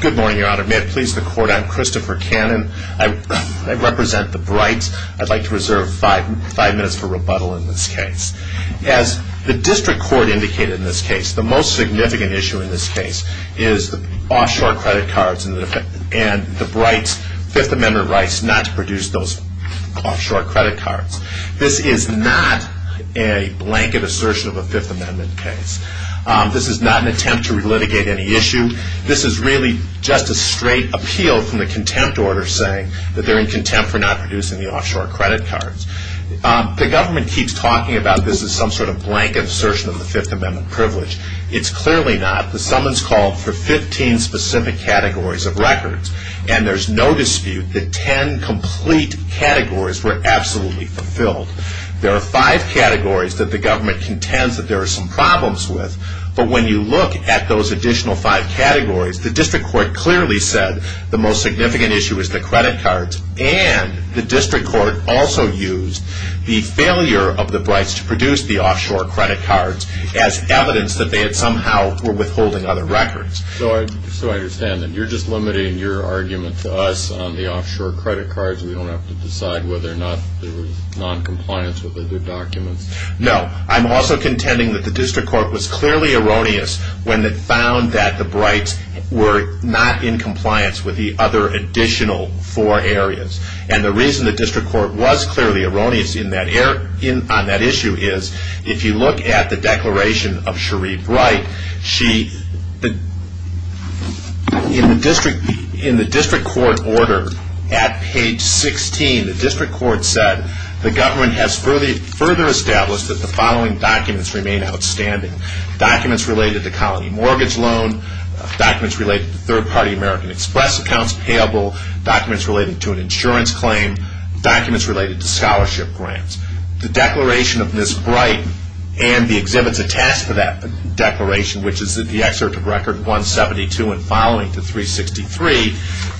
Good morning, your honor. May it please the court, I'm Christopher Cannon. I represent the Brights. I'd like to reserve five minutes for rebuttal in this case. As the district court indicated in this case, the most significant issue in this case is the offshore credit cards and the Brights' Fifth Amendment rights not to produce those offshore credit cards. This is not a blanket assertion of a Fifth Amendment case. This is not an attempt to relitigate any issue. This is really just a straight appeal from the contempt order saying that they're in contempt for not producing the offshore credit cards. The government keeps talking about this as some sort of blanket assertion of the Fifth Amendment privilege. It's clearly not. The summons called for 15 specific categories of records. And there's no dispute that 10 complete categories were absolutely fulfilled. There are five categories that the government contends that there are some problems with. But when you look at those additional five categories, the district court clearly said the most significant issue is the credit cards. And the district court also used the failure of the Brights to produce the offshore credit cards as evidence that they had somehow were withholding other records. So I understand that you're just limiting your argument to us on the offshore credit cards. We don't have to decide whether or not there was noncompliance with other documents. No. I'm also contending that the district court was clearly erroneous when it found that the Brights were not in compliance with the other additional four areas. And the reason the district court was clearly erroneous on that issue is if you look at the declaration of Cherie Bright, in the district court order at page 16, the district court said the government has further established that the following documents remain outstanding. Documents related to colony mortgage loan, documents related to third-party American Express accounts payable, documents related to an insurance claim, documents related to scholarship grants. The declaration of Ms. Bright and the exhibits attached to that declaration, which is the excerpt of record 172 and following to 363,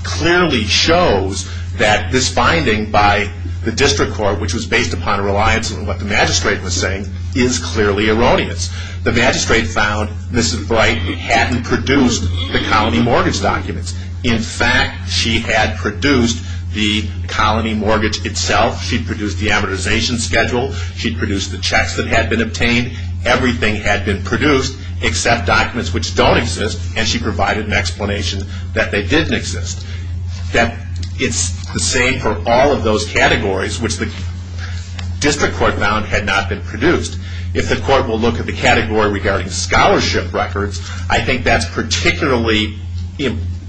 clearly shows that this finding by the district court, which was based upon a reliance on what the magistrate was saying, is clearly erroneous. The magistrate found Ms. Bright hadn't produced the colony mortgage documents. In fact, she had produced the colony mortgage itself. She produced the amortization schedule. She produced the checks that had been obtained. Everything had been produced except documents which don't exist, and she provided an explanation that they didn't exist. It's the same for all of those categories which the district court found had not been produced. If the court will look at the category regarding scholarship records, I think that's particularly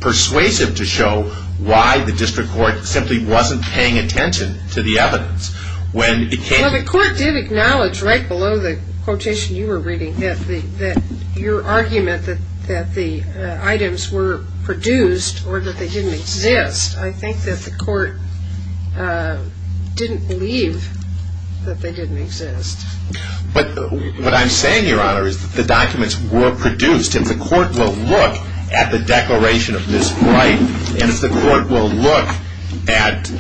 persuasive to show why the district court simply wasn't paying attention to the evidence. Well, the court did acknowledge right below the quotation you were reading that your argument that the items were produced or that they didn't exist, I think that the court didn't believe that they didn't exist. But what I'm saying, Your Honor, is that the documents were produced. If the court will look at the declaration of Ms. Bright, and if the court will look at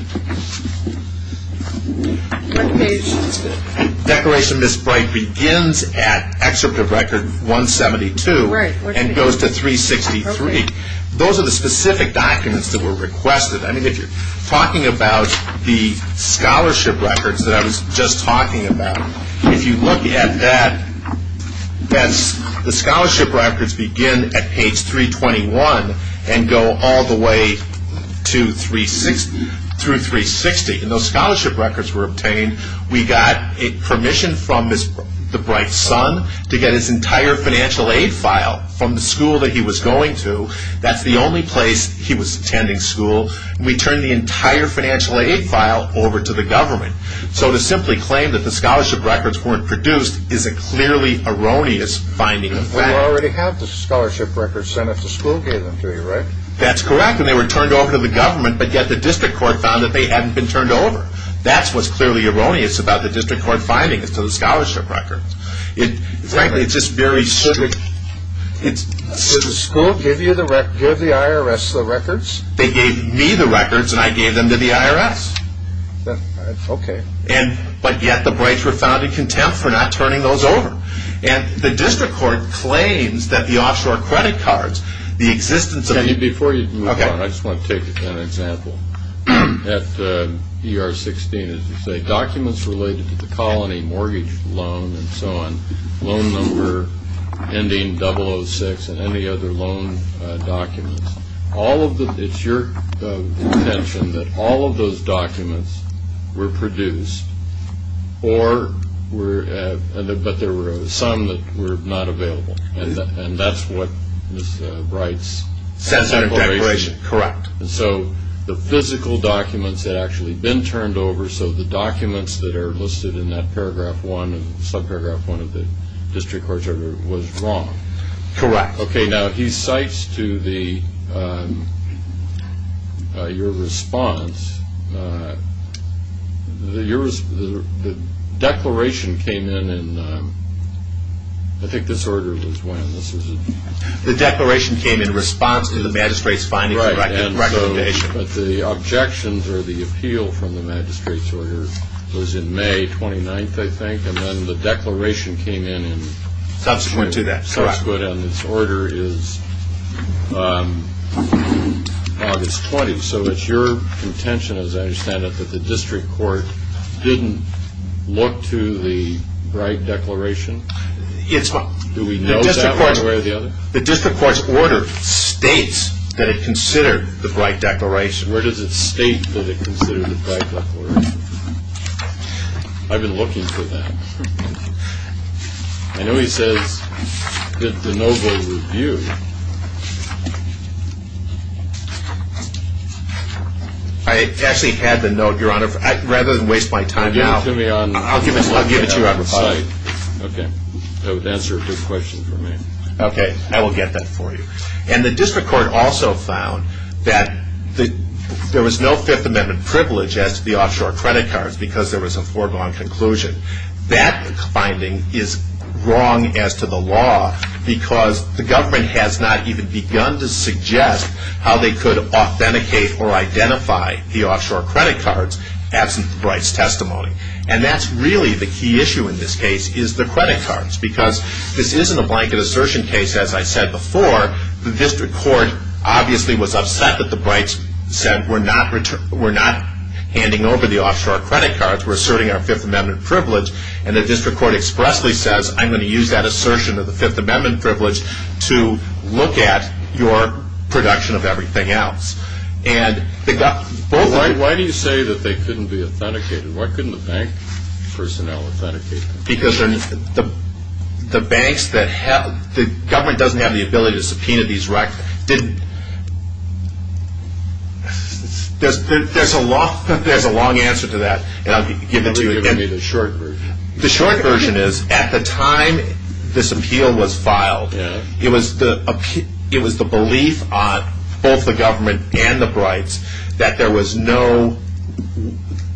declaration of Ms. Bright begins at excerpt of record 172 and goes to 363, those are the specific documents that were requested. I mean, if you're talking about the scholarship records that I was just talking about, if you look at that, the scholarship records begin at page 321 and go all the way to 360. And those scholarship records were obtained. We got permission from Ms. Bright's son to get his entire financial aid file from the school that he was going to. That's the only place he was attending school. We turned the entire financial aid file over to the government. So to simply claim that the scholarship records weren't produced is a clearly erroneous finding of fact. Well, you already have the scholarship records sent out to school, gave them to you, right? That's correct, and they were turned over to the government, but yet the district court found that they hadn't been turned over. That's what's clearly erroneous about the district court finding is to the scholarship record. Frankly, it's just very strict. Did the school give the IRS the records? They gave me the records, and I gave them to the IRS. Okay. But yet the Brights were found in contempt for not turning those over. And the district court claims that the offshore credit cards, the existence of the... and so on, loan number ending 006 and any other loan documents, all of the... it's your contention that all of those documents were produced or were... but there were some that were not available, and that's what Ms. Bright's... Sensitive declaration, correct. And so the physical documents had actually been turned over, so the documents that are listed in that paragraph one and subparagraph one of the district court record was wrong. Correct. Okay, now he cites to the... your response... the declaration came in in... I think this order was when this was... The declaration came in response to the magistrate's findings and recommendation. But the objections or the appeal from the magistrate's order was in May 29th, I think, and then the declaration came in in... Subsequent to that, correct. Subsequent, and this order is August 20th, so it's your contention, as I understand it, that the district court didn't look to the Bright declaration? It's... Do we know that one way or the other? The district court's order states that it considered the Bright declaration. Where does it state that it considered the Bright declaration? I've been looking for that. I know he says that the no-go review... I actually had the note, Your Honor. Rather than waste my time now... Give it to me on... I'll give it to you on the site. Okay. That would answer a good question for me. Okay. I will get that for you. And the district court also found that there was no Fifth Amendment privilege as to the offshore credit cards because there was a foregone conclusion. That finding is wrong as to the law because the government has not even begun to suggest how they could authenticate or identify the offshore credit cards absent the Bright's testimony. And that's really the key issue in this case is the credit cards because this isn't a blanket assertion case. As I said before, the district court obviously was upset that the Brights said, we're not handing over the offshore credit cards. We're asserting our Fifth Amendment privilege. And the district court expressly says, I'm going to use that assertion of the Fifth Amendment privilege to look at your production of everything else. And... Why do you say that they couldn't be authenticated? Why couldn't the bank personnel authenticate them? Because the banks that have... The government doesn't have the ability to subpoena these records. There's a long answer to that, and I'll give it to you. Give me the short version. The short version is, at the time this appeal was filed, it was the belief on both the government and the Brights that there was no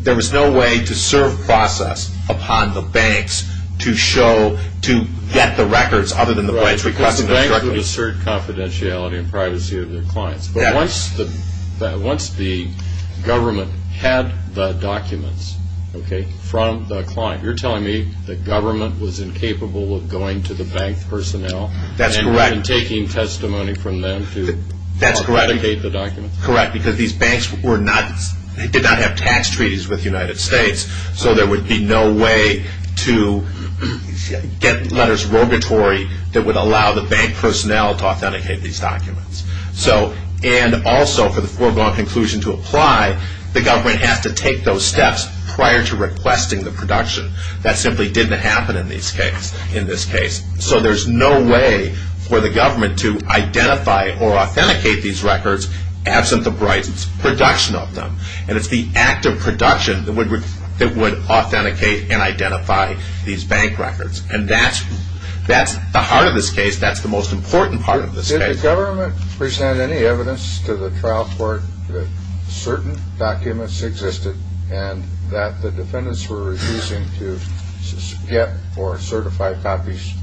way to serve process upon the banks to show, to get the records other than the Brights requesting them directly. Because the banks would assert confidentiality and privacy of their clients. But once the government had the documents from the client, you're telling me the government was incapable of going to the bank personnel... That's correct. ...and taking testimony from them to authenticate the documents. Correct. Because these banks did not have tax treaties with the United States, so there would be no way to get letters rogatory that would allow the bank personnel to authenticate these documents. And also, for the foregone conclusion to apply, the government has to take those steps prior to requesting the production. That simply didn't happen in this case. So there's no way for the government to identify or authenticate these records absent the Brights' production of them. And it's the act of production that would authenticate and identify these bank records. And that's the heart of this case. That's the most important part of this case. Did the government present any evidence to the trial court that certain documents existed and that the defendants were refusing to get or certify copies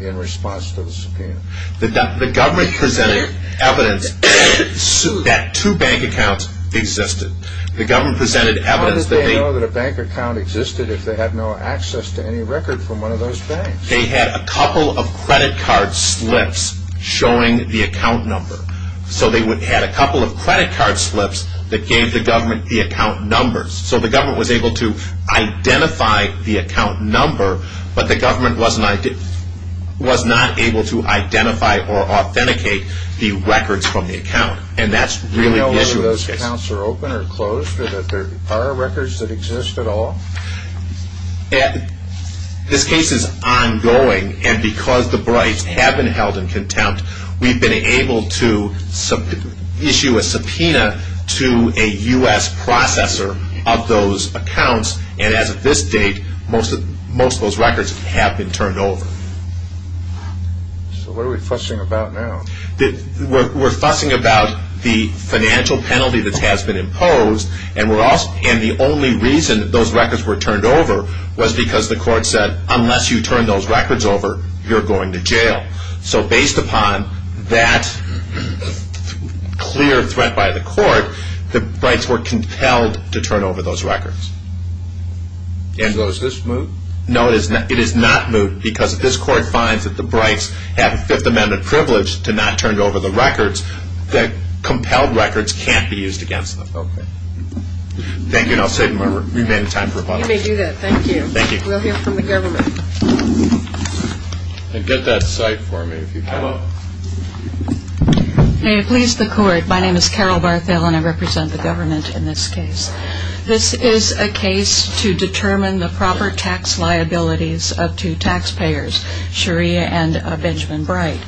in response to the subpoena? The government presented evidence that two bank accounts existed. How did they know that a bank account existed if they had no access to any record from one of those banks? They had a couple of credit card slips showing the account number. So they had a couple of credit card slips that gave the government the account numbers. So the government was able to identify the account number, but the government was not able to identify or authenticate the records from the account. And that's really the issue of this case. Do you know whether those accounts are open or closed? Are there records that exist at all? This case is ongoing, and because the Brights have been held in contempt, we've been able to issue a subpoena to a U.S. processor of those accounts. And as of this date, most of those records have been turned over. So what are we fussing about now? We're fussing about the financial penalty that has been imposed, and the only reason those records were turned over was because the court said, unless you turn those records over, you're going to jail. So based upon that clear threat by the court, the Brights were compelled to turn over those records. So is this moot? No, it is not moot, because if this court finds that the Brights have a Fifth Amendment privilege to not turn over the records, the compelled records can't be used against them. Okay. Thank you, and I'll save my remaining time for a bunch of questions. You may do that. Thank you. Thank you. We'll hear from the government. And get that cite for me, if you can. I will. May it please the court, my name is Carol Barthel, and I represent the government in this case. This is a case to determine the proper tax liabilities of two taxpayers, Sharia and Benjamin Bright.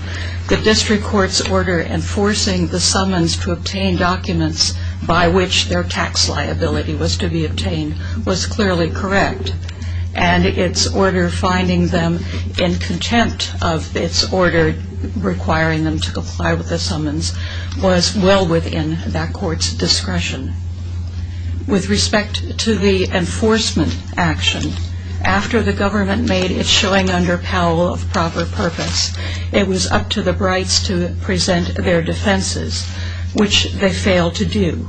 The district court's order enforcing the summons to obtain documents by which their tax liability was to be obtained was clearly correct, and its order finding them in contempt of its order requiring them to comply with the summons was well within that court's discretion. With respect to the enforcement action, after the government made it showing under Powell of proper purpose, it was up to the Brights to present their defenses, which they failed to do.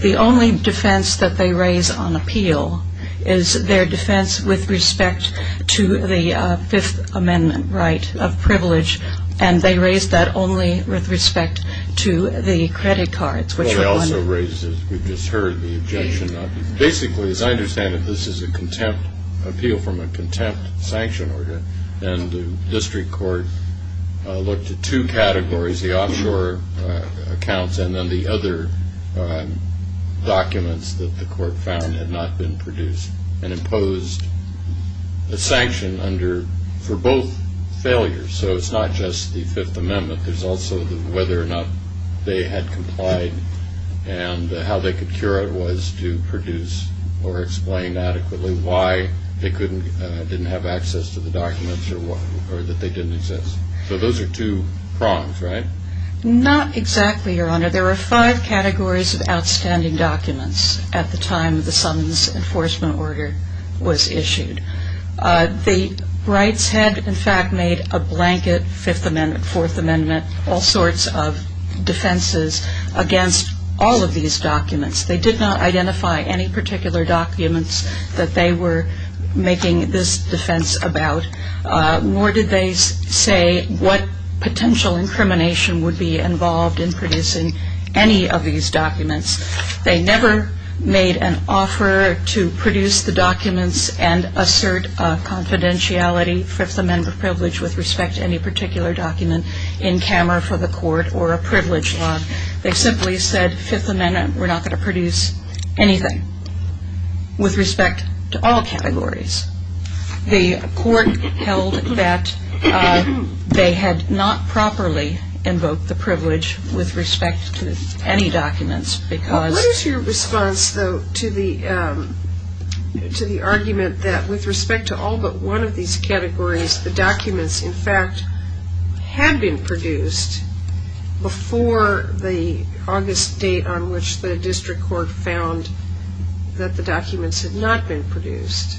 The only defense that they raise on appeal is their defense with respect to the Fifth Amendment right of privilege, and they raised that only with respect to the credit cards. Well, they also raised, as we've just heard, the objection. Basically, as I understand it, this is an appeal from a contempt sanction order, and the district court looked at two categories, the offshore accounts and then the other documents that the court found had not been produced and imposed a sanction for both failures. So it's not just the Fifth Amendment. There's also whether or not they had complied and how they could cure it was to produce or explain adequately why they didn't have access to the documents or that they didn't exist. So those are two prongs, right? Not exactly, Your Honor. There are five categories of outstanding documents at the time the summons enforcement order was issued. The Brights had, in fact, made a blanket Fifth Amendment, Fourth Amendment, all sorts of defenses against all of these documents. They did not identify any particular documents that they were making this defense about, nor did they say what potential incrimination would be involved in producing any of these documents. They never made an offer to produce the documents and assert confidentiality, with respect to any particular document in camera for the court or a privilege law. They simply said Fifth Amendment, we're not going to produce anything with respect to all categories. The court held that they had not properly invoked the privilege with respect to any documents because… Well, but one of these categories, the documents, in fact, had been produced before the August date on which the district court found that the documents had not been produced.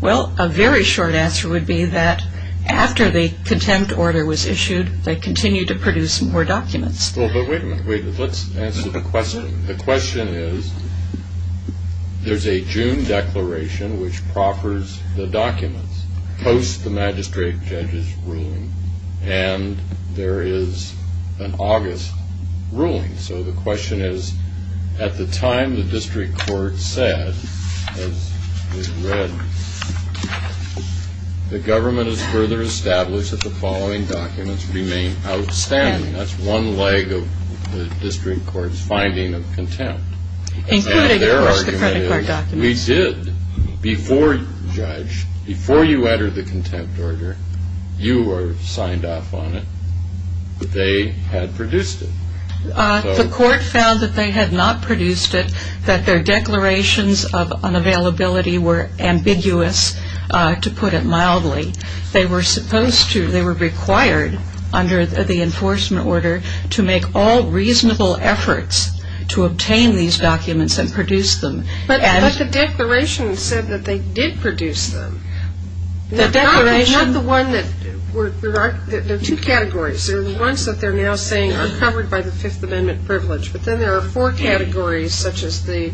Well, a very short answer would be that after the contempt order was issued, they continued to produce more documents. Well, but wait a minute. Wait, let's answer the question. The question is, there's a June declaration, which proffers the documents, post the magistrate judge's ruling, and there is an August ruling. So the question is, at the time the district court said, as we read, the government has further established that the following documents remain outstanding. That's one leg of the district court's finding of contempt. Including, of course, the credit card documents. And their argument is, we did, before, judge, before you entered the contempt order, you were signed off on it, but they had produced it. The court found that they had not produced it, that their declarations of unavailability were ambiguous, to put it mildly. They were supposed to, they were required, under the enforcement order, to make all reasonable efforts to obtain these documents and produce them. But the declaration said that they did produce them. The declaration. Not the one that, there are two categories. There are the ones that they're now saying are covered by the Fifth Amendment privilege. But then there are four categories, such as the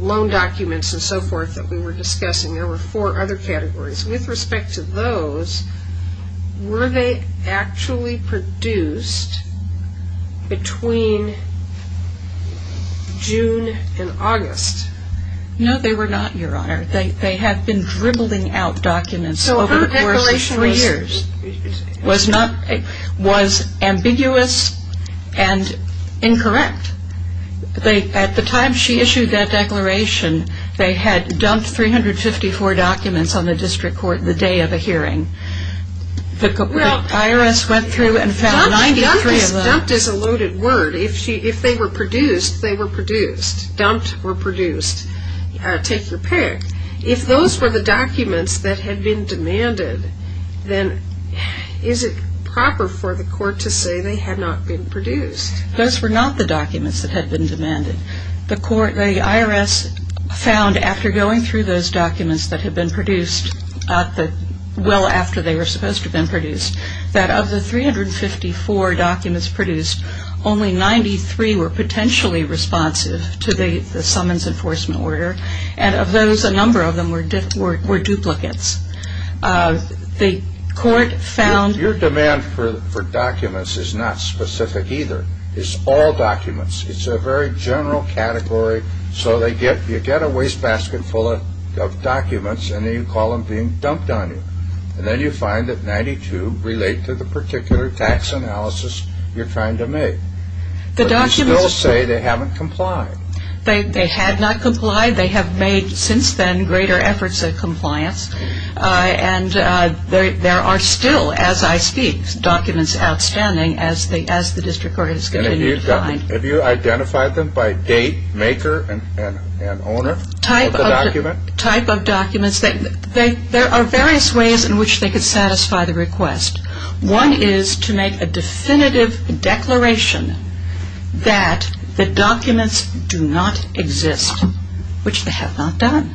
loan documents and so forth, that we were discussing. There were four other categories. With respect to those, were they actually produced between June and August? No, they were not, Your Honor. They had been dribbling out documents over the course of three years. So her declaration was ambiguous and incorrect. At the time she issued that declaration, they had dumped 354 documents on the district court the day of the hearing. The IRS went through and found 93 of them. Dumped is a loaded word. If they were produced, they were produced. Dumped or produced. Take your pick. If those were the documents that had been demanded, then is it proper for the court to say they had not been produced? Those were not the documents that had been demanded. The IRS found after going through those documents that had been produced, well after they were supposed to have been produced, that of the 354 documents produced, only 93 were potentially responsive to the summons enforcement order. And of those, a number of them were duplicates. The court found... Your demand for documents is not specific either. It's all documents. It's a very general category. So you get a wastebasket full of documents, and then you call them being dumped on you. And then you find that 92 relate to the particular tax analysis you're trying to make. But you still say they haven't complied. They had not complied. They have made, since then, greater efforts at compliance. And there are still, as I speak, documents outstanding as the district court has continued to find. Have you identified them by date, maker, and owner of the document? Type of documents. There are various ways in which they could satisfy the request. One is to make a definitive declaration that the documents do not exist, which they have not done.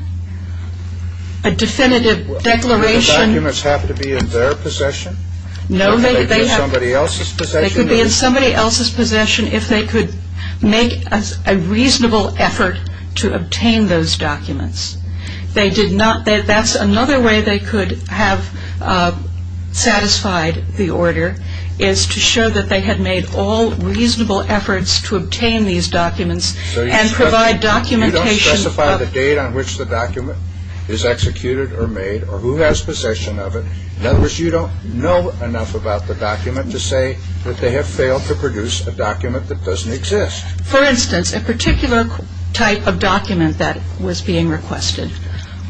A definitive declaration... Do the documents have to be in their possession? No, they have... Could they be in somebody else's possession? They could be in somebody else's possession if they could make a reasonable effort to obtain those documents. They did not... That's another way they could have satisfied the order, is to show that they had made all reasonable efforts to obtain these documents and provide documentation... So you don't specify the date on which the document is executed or made, or who has possession of it. In other words, you don't know enough about the document to say that they have failed to produce a document that doesn't exist. For instance, a particular type of document that was being requested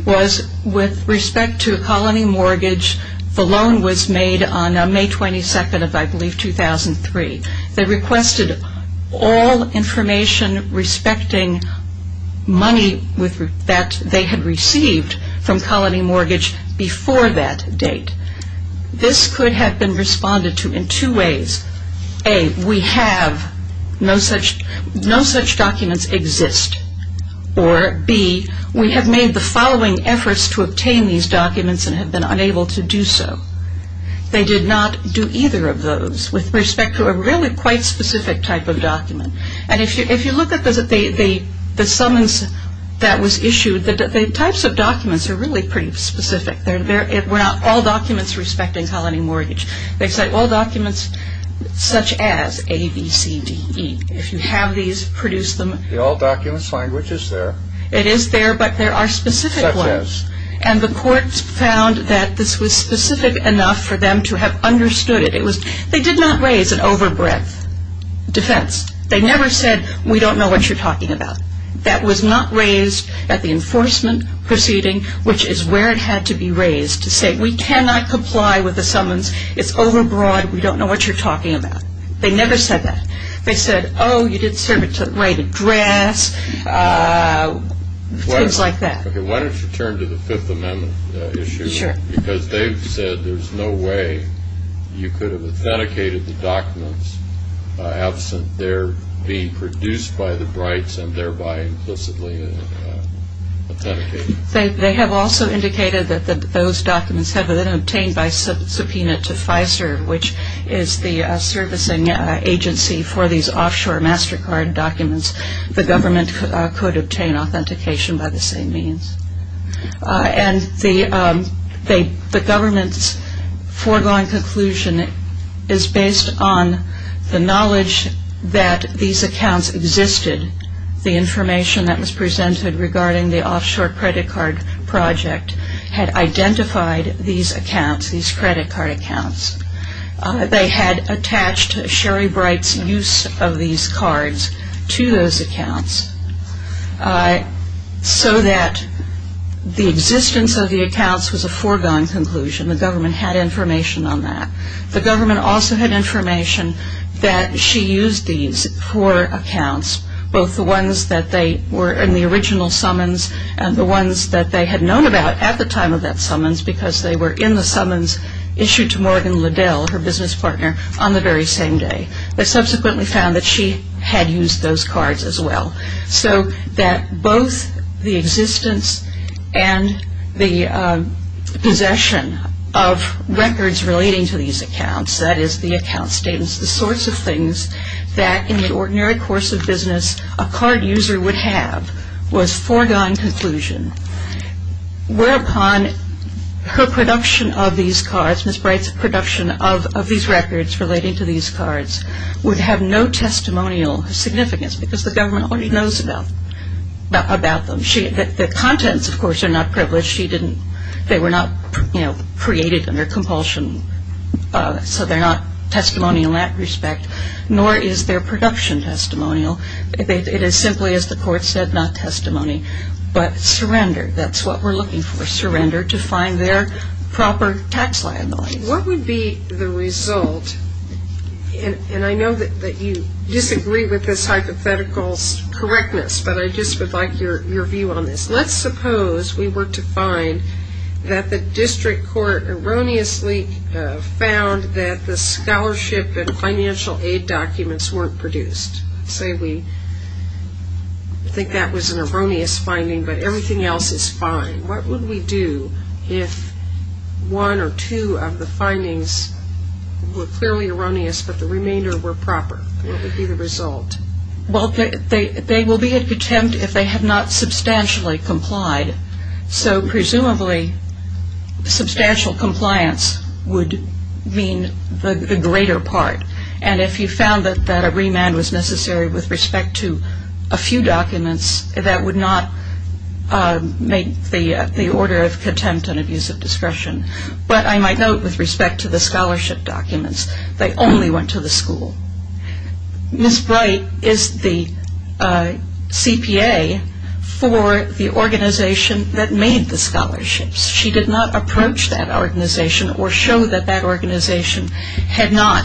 was with respect to a colony mortgage. The loan was made on May 22nd of, I believe, 2003. They requested all information respecting money that they had received from colony mortgage before that date. This could have been responded to in two ways. A, we have... No such documents exist. Or B, we have made the following efforts to obtain these documents and have been unable to do so. They did not do either of those with respect to a really quite specific type of document. And if you look at the summons that was issued, the types of documents are really pretty specific. They're not all documents respecting colony mortgage. They cite all documents such as A, B, C, D, E. If you have these, produce them. The all documents language is there. It is there, but there are specific ones. Such as. And the court found that this was specific enough for them to have understood it. They did not raise an overbreadth defense. They never said, we don't know what you're talking about. That was not raised at the enforcement proceeding, which is where it had to be raised, to say we cannot comply with the summons. It's overbroad. We don't know what you're talking about. They never said that. They said, oh, you didn't serve it to the right address. Things like that. Why don't you turn to the Fifth Amendment issue. Sure. Because they've said there's no way you could have authenticated the documents absent their being produced by the Brights and thereby implicitly authenticated. They have also indicated that those documents have been obtained by subpoena to Pfizer, which is the servicing agency for these offshore MasterCard documents. The government could obtain authentication by the same means. And the government's foregoing conclusion is based on the knowledge that these accounts existed. The information that was presented regarding the offshore credit card project had identified these accounts, these credit card accounts. They had attached Sherry Bright's use of these cards to those accounts so that the existence of the accounts was a foregoing conclusion. The government had information on that. The government also had information that she used these for accounts, both the ones that were in the original summons and the ones that they had known about at the time of that summons because they were in the summons issued to Morgan Liddell, her business partner, on the very same day. They subsequently found that she had used those cards as well. So that both the existence and the possession of records relating to these accounts, that is the account statements, the sorts of things that in the ordinary course of business a card user would have, was foregone conclusion. Whereupon her production of these cards, Ms. Bright's production of these records relating to these cards, would have no testimonial significance because the government already knows about them. The contents, of course, are not privileged. They were not created under compulsion, so they're not testimonial in that respect, nor is their production testimonial. It is simply, as the court said, not testimony, but surrender. That's what we're looking for, surrender to find their proper tax liability. What would be the result, and I know that you disagree with this hypothetical's correctness, but I just would like your view on this. Let's suppose we were to find that the district court erroneously found that the scholarship and financial aid documents weren't produced. Say we think that was an erroneous finding, but everything else is fine. What would we do if one or two of the findings were clearly erroneous, but the remainder were proper? What would be the result? Well, they will be at contempt if they have not substantially complied. So presumably substantial compliance would mean the greater part, and if you found that a remand was necessary with respect to a few documents, that would not make the order of contempt and abuse of discretion. But I might note with respect to the scholarship documents, they only went to the school. Ms. Bright is the CPA for the organization that made the scholarships. She did not approach that organization or show that that organization had not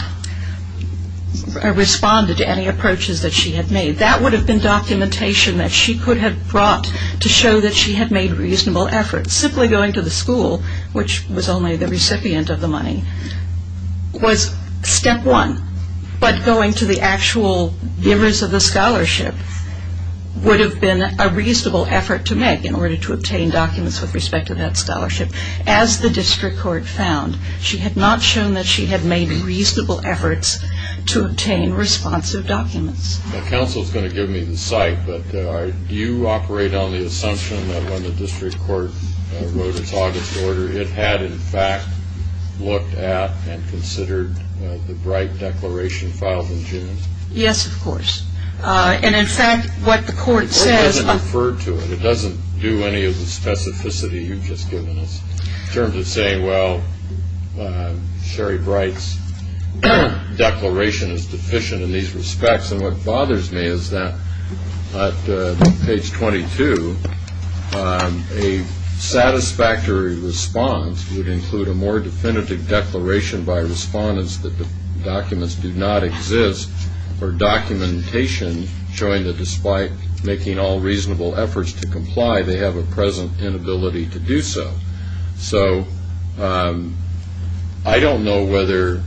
responded to any approaches that she had made. That would have been documentation that she could have brought to show that she had made reasonable efforts. Simply going to the school, which was only the recipient of the money, was step one. But going to the actual givers of the scholarship would have been a reasonable effort to make in order to obtain documents with respect to that scholarship. As the district court found, she had not shown that she had made reasonable efforts to obtain responsive documents. Counsel is going to give me the cite, but do you operate on the assumption that when the district court wrote its August order, it had in fact looked at and considered the Bright declaration filed in June? Yes, of course. And in fact, what the court says The court doesn't refer to it. It doesn't do any of the specificity you've just given us in terms of saying, well, Sherry Bright's declaration is deficient in these respects. And what bothers me is that at page 22, a satisfactory response would include a more definitive declaration by respondents that the documents do not exist, or documentation showing that despite making all reasonable efforts to comply, they have a present inability to do so. So I don't know whether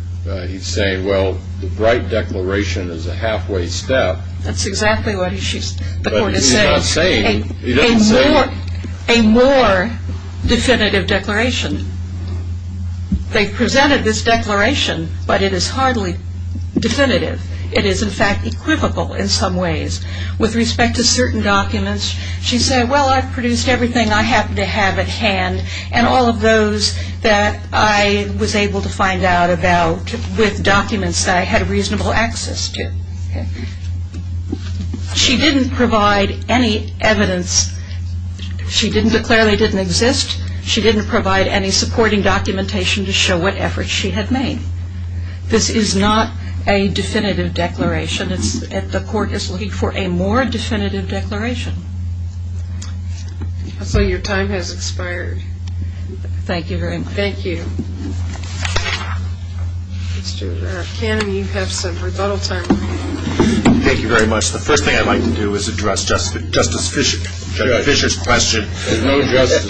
he's saying, well, the Bright declaration is a halfway step. That's exactly what the court is saying. But he's not saying, he doesn't say A more definitive declaration. They've presented this declaration, but it is hardly definitive. It is in fact equivocal in some ways. With respect to certain documents, she said, Well, I've produced everything I happen to have at hand, and all of those that I was able to find out about with documents that I had reasonable access to. She didn't provide any evidence. She didn't declare they didn't exist. She didn't provide any supporting documentation to show what efforts she had made. This is not a definitive declaration. The court is looking for a more definitive declaration. So your time has expired. Thank you very much. Thank you. Mr. Kahneman, you have some rebuttal time. Thank you very much. The first thing I'd like to do is address Justice Fischer's question. There's no justice.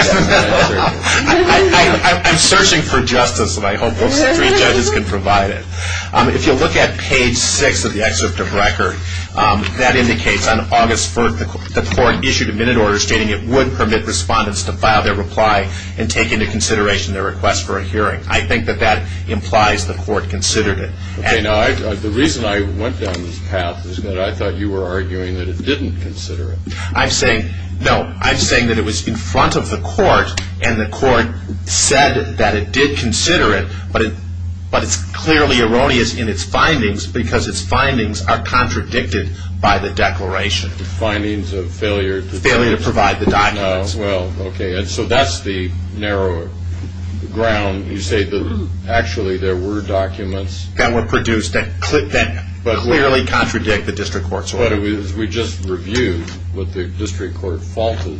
I'm searching for justice, and I hope those three judges can provide it. If you look at page six of the excerpt of record, that indicates on August 1st, the court issued a minute order stating it would permit respondents to file their reply and take into consideration their request for a hearing. I think that that implies the court considered it. Okay. Now, the reason I went down this path is that I thought you were arguing that it didn't consider it. No. I'm saying that it was in front of the court, and the court said that it did consider it, but it's clearly erroneous in its findings because its findings are contradicted by the declaration. The findings of failure to provide the documents. Well, okay, so that's the narrow ground. You say that actually there were documents. That were produced that clearly contradict the district court's order. We just reviewed what the district court faulted,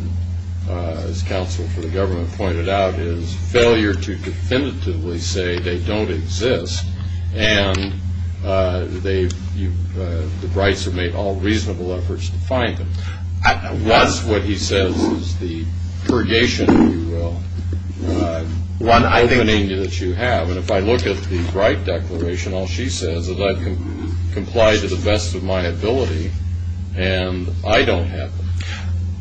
as counsel for the government pointed out, is failure to definitively say they don't exist, and the Brights have made all reasonable efforts to find them. That's what he says is the purgation, if you will, opening that you have. And if I look at the Bright declaration, all she says is I've complied to the best of my ability, and I don't have them.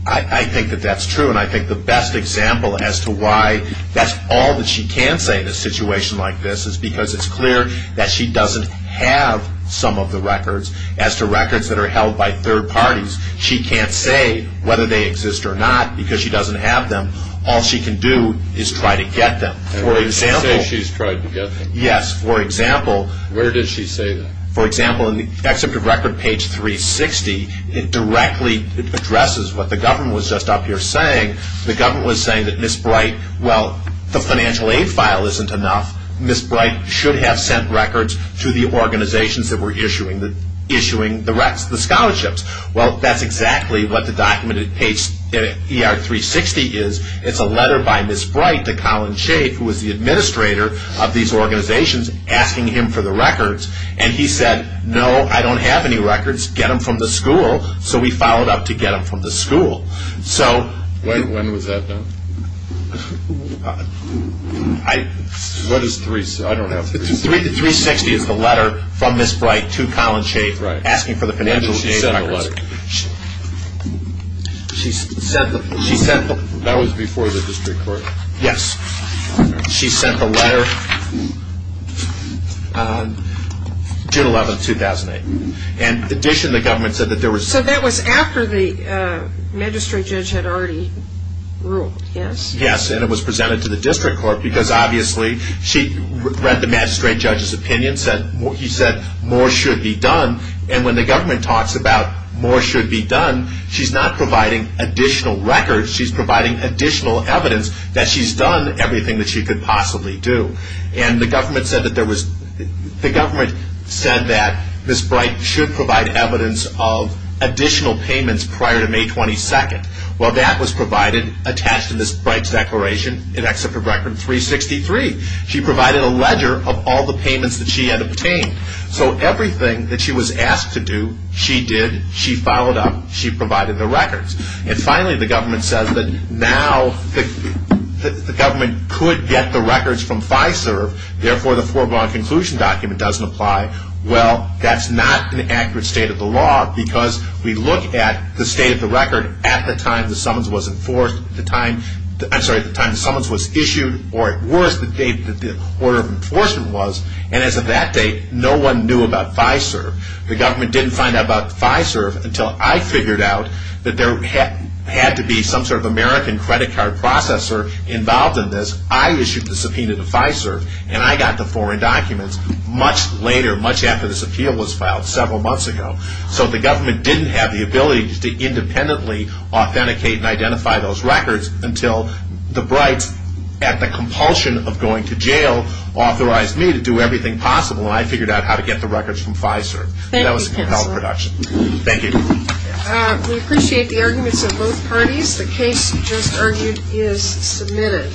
I think that that's true, and I think the best example as to why that's all that she can say in a situation like this is because it's clear that she doesn't have some of the records. As to records that are held by third parties, she can't say whether they exist or not because she doesn't have them. All she can do is try to get them. For example. She's tried to get them. Yes. For example. Where did she say that? For example, in the excerpt of record page 360, it directly addresses what the government was just up here saying. The government was saying that Ms. Bright, well, the financial aid file isn't enough. Ms. Bright should have sent records to the organizations that were issuing the scholarships. Well, that's exactly what the document at page 360 is. It's a letter by Ms. Bright to Colin Schaaf, who was the administrator of these organizations, asking him for the records. And he said, no, I don't have any records. Get them from the school. So we followed up to get them from the school. When was that done? What is 360? I don't have 360. 360 is the letter from Ms. Bright to Colin Schaaf asking for the financial aid records. When did she send the letter? That was before the district court. Yes. She sent the letter June 11, 2008. And in addition, the government said that there was... So that was after the magistrate judge had already ruled, yes? Yes, and it was presented to the district court because obviously she read the magistrate judge's opinion. He said more should be done. And when the government talks about more should be done, she's not providing additional records. She's providing additional evidence that she's done everything that she could possibly do. And the government said that there was... The government said that Ms. Bright should provide evidence of additional payments prior to May 22. Well, that was provided, attached to Ms. Bright's declaration in Excerpt of Record 363. She provided a ledger of all the payments that she had obtained. So everything that she was asked to do, she did. She followed up. She provided the records. And finally, the government says that now the government could get the records from FISERV. Therefore, the foregone conclusion document doesn't apply. Well, that's not an accurate state of the law because we look at the state of the record at the time the summons was enforced. I'm sorry, at the time the summons was issued, or at worst, the date that the order of enforcement was. And as of that date, no one knew about FISERV. The government didn't find out about FISERV until I figured out that there had to be some sort of American credit card processor involved in this. I issued the subpoena to FISERV, and I got the foreign documents much later, much after this appeal was filed, several months ago. So the government didn't have the ability to independently authenticate and identify those records until the Brights, at the compulsion of going to jail, authorized me to do everything possible. Until I figured out how to get the records from FISERV. Thank you, counsel. That was a compelling production. Thank you. We appreciate the arguments of both parties. The case just argued is submitted.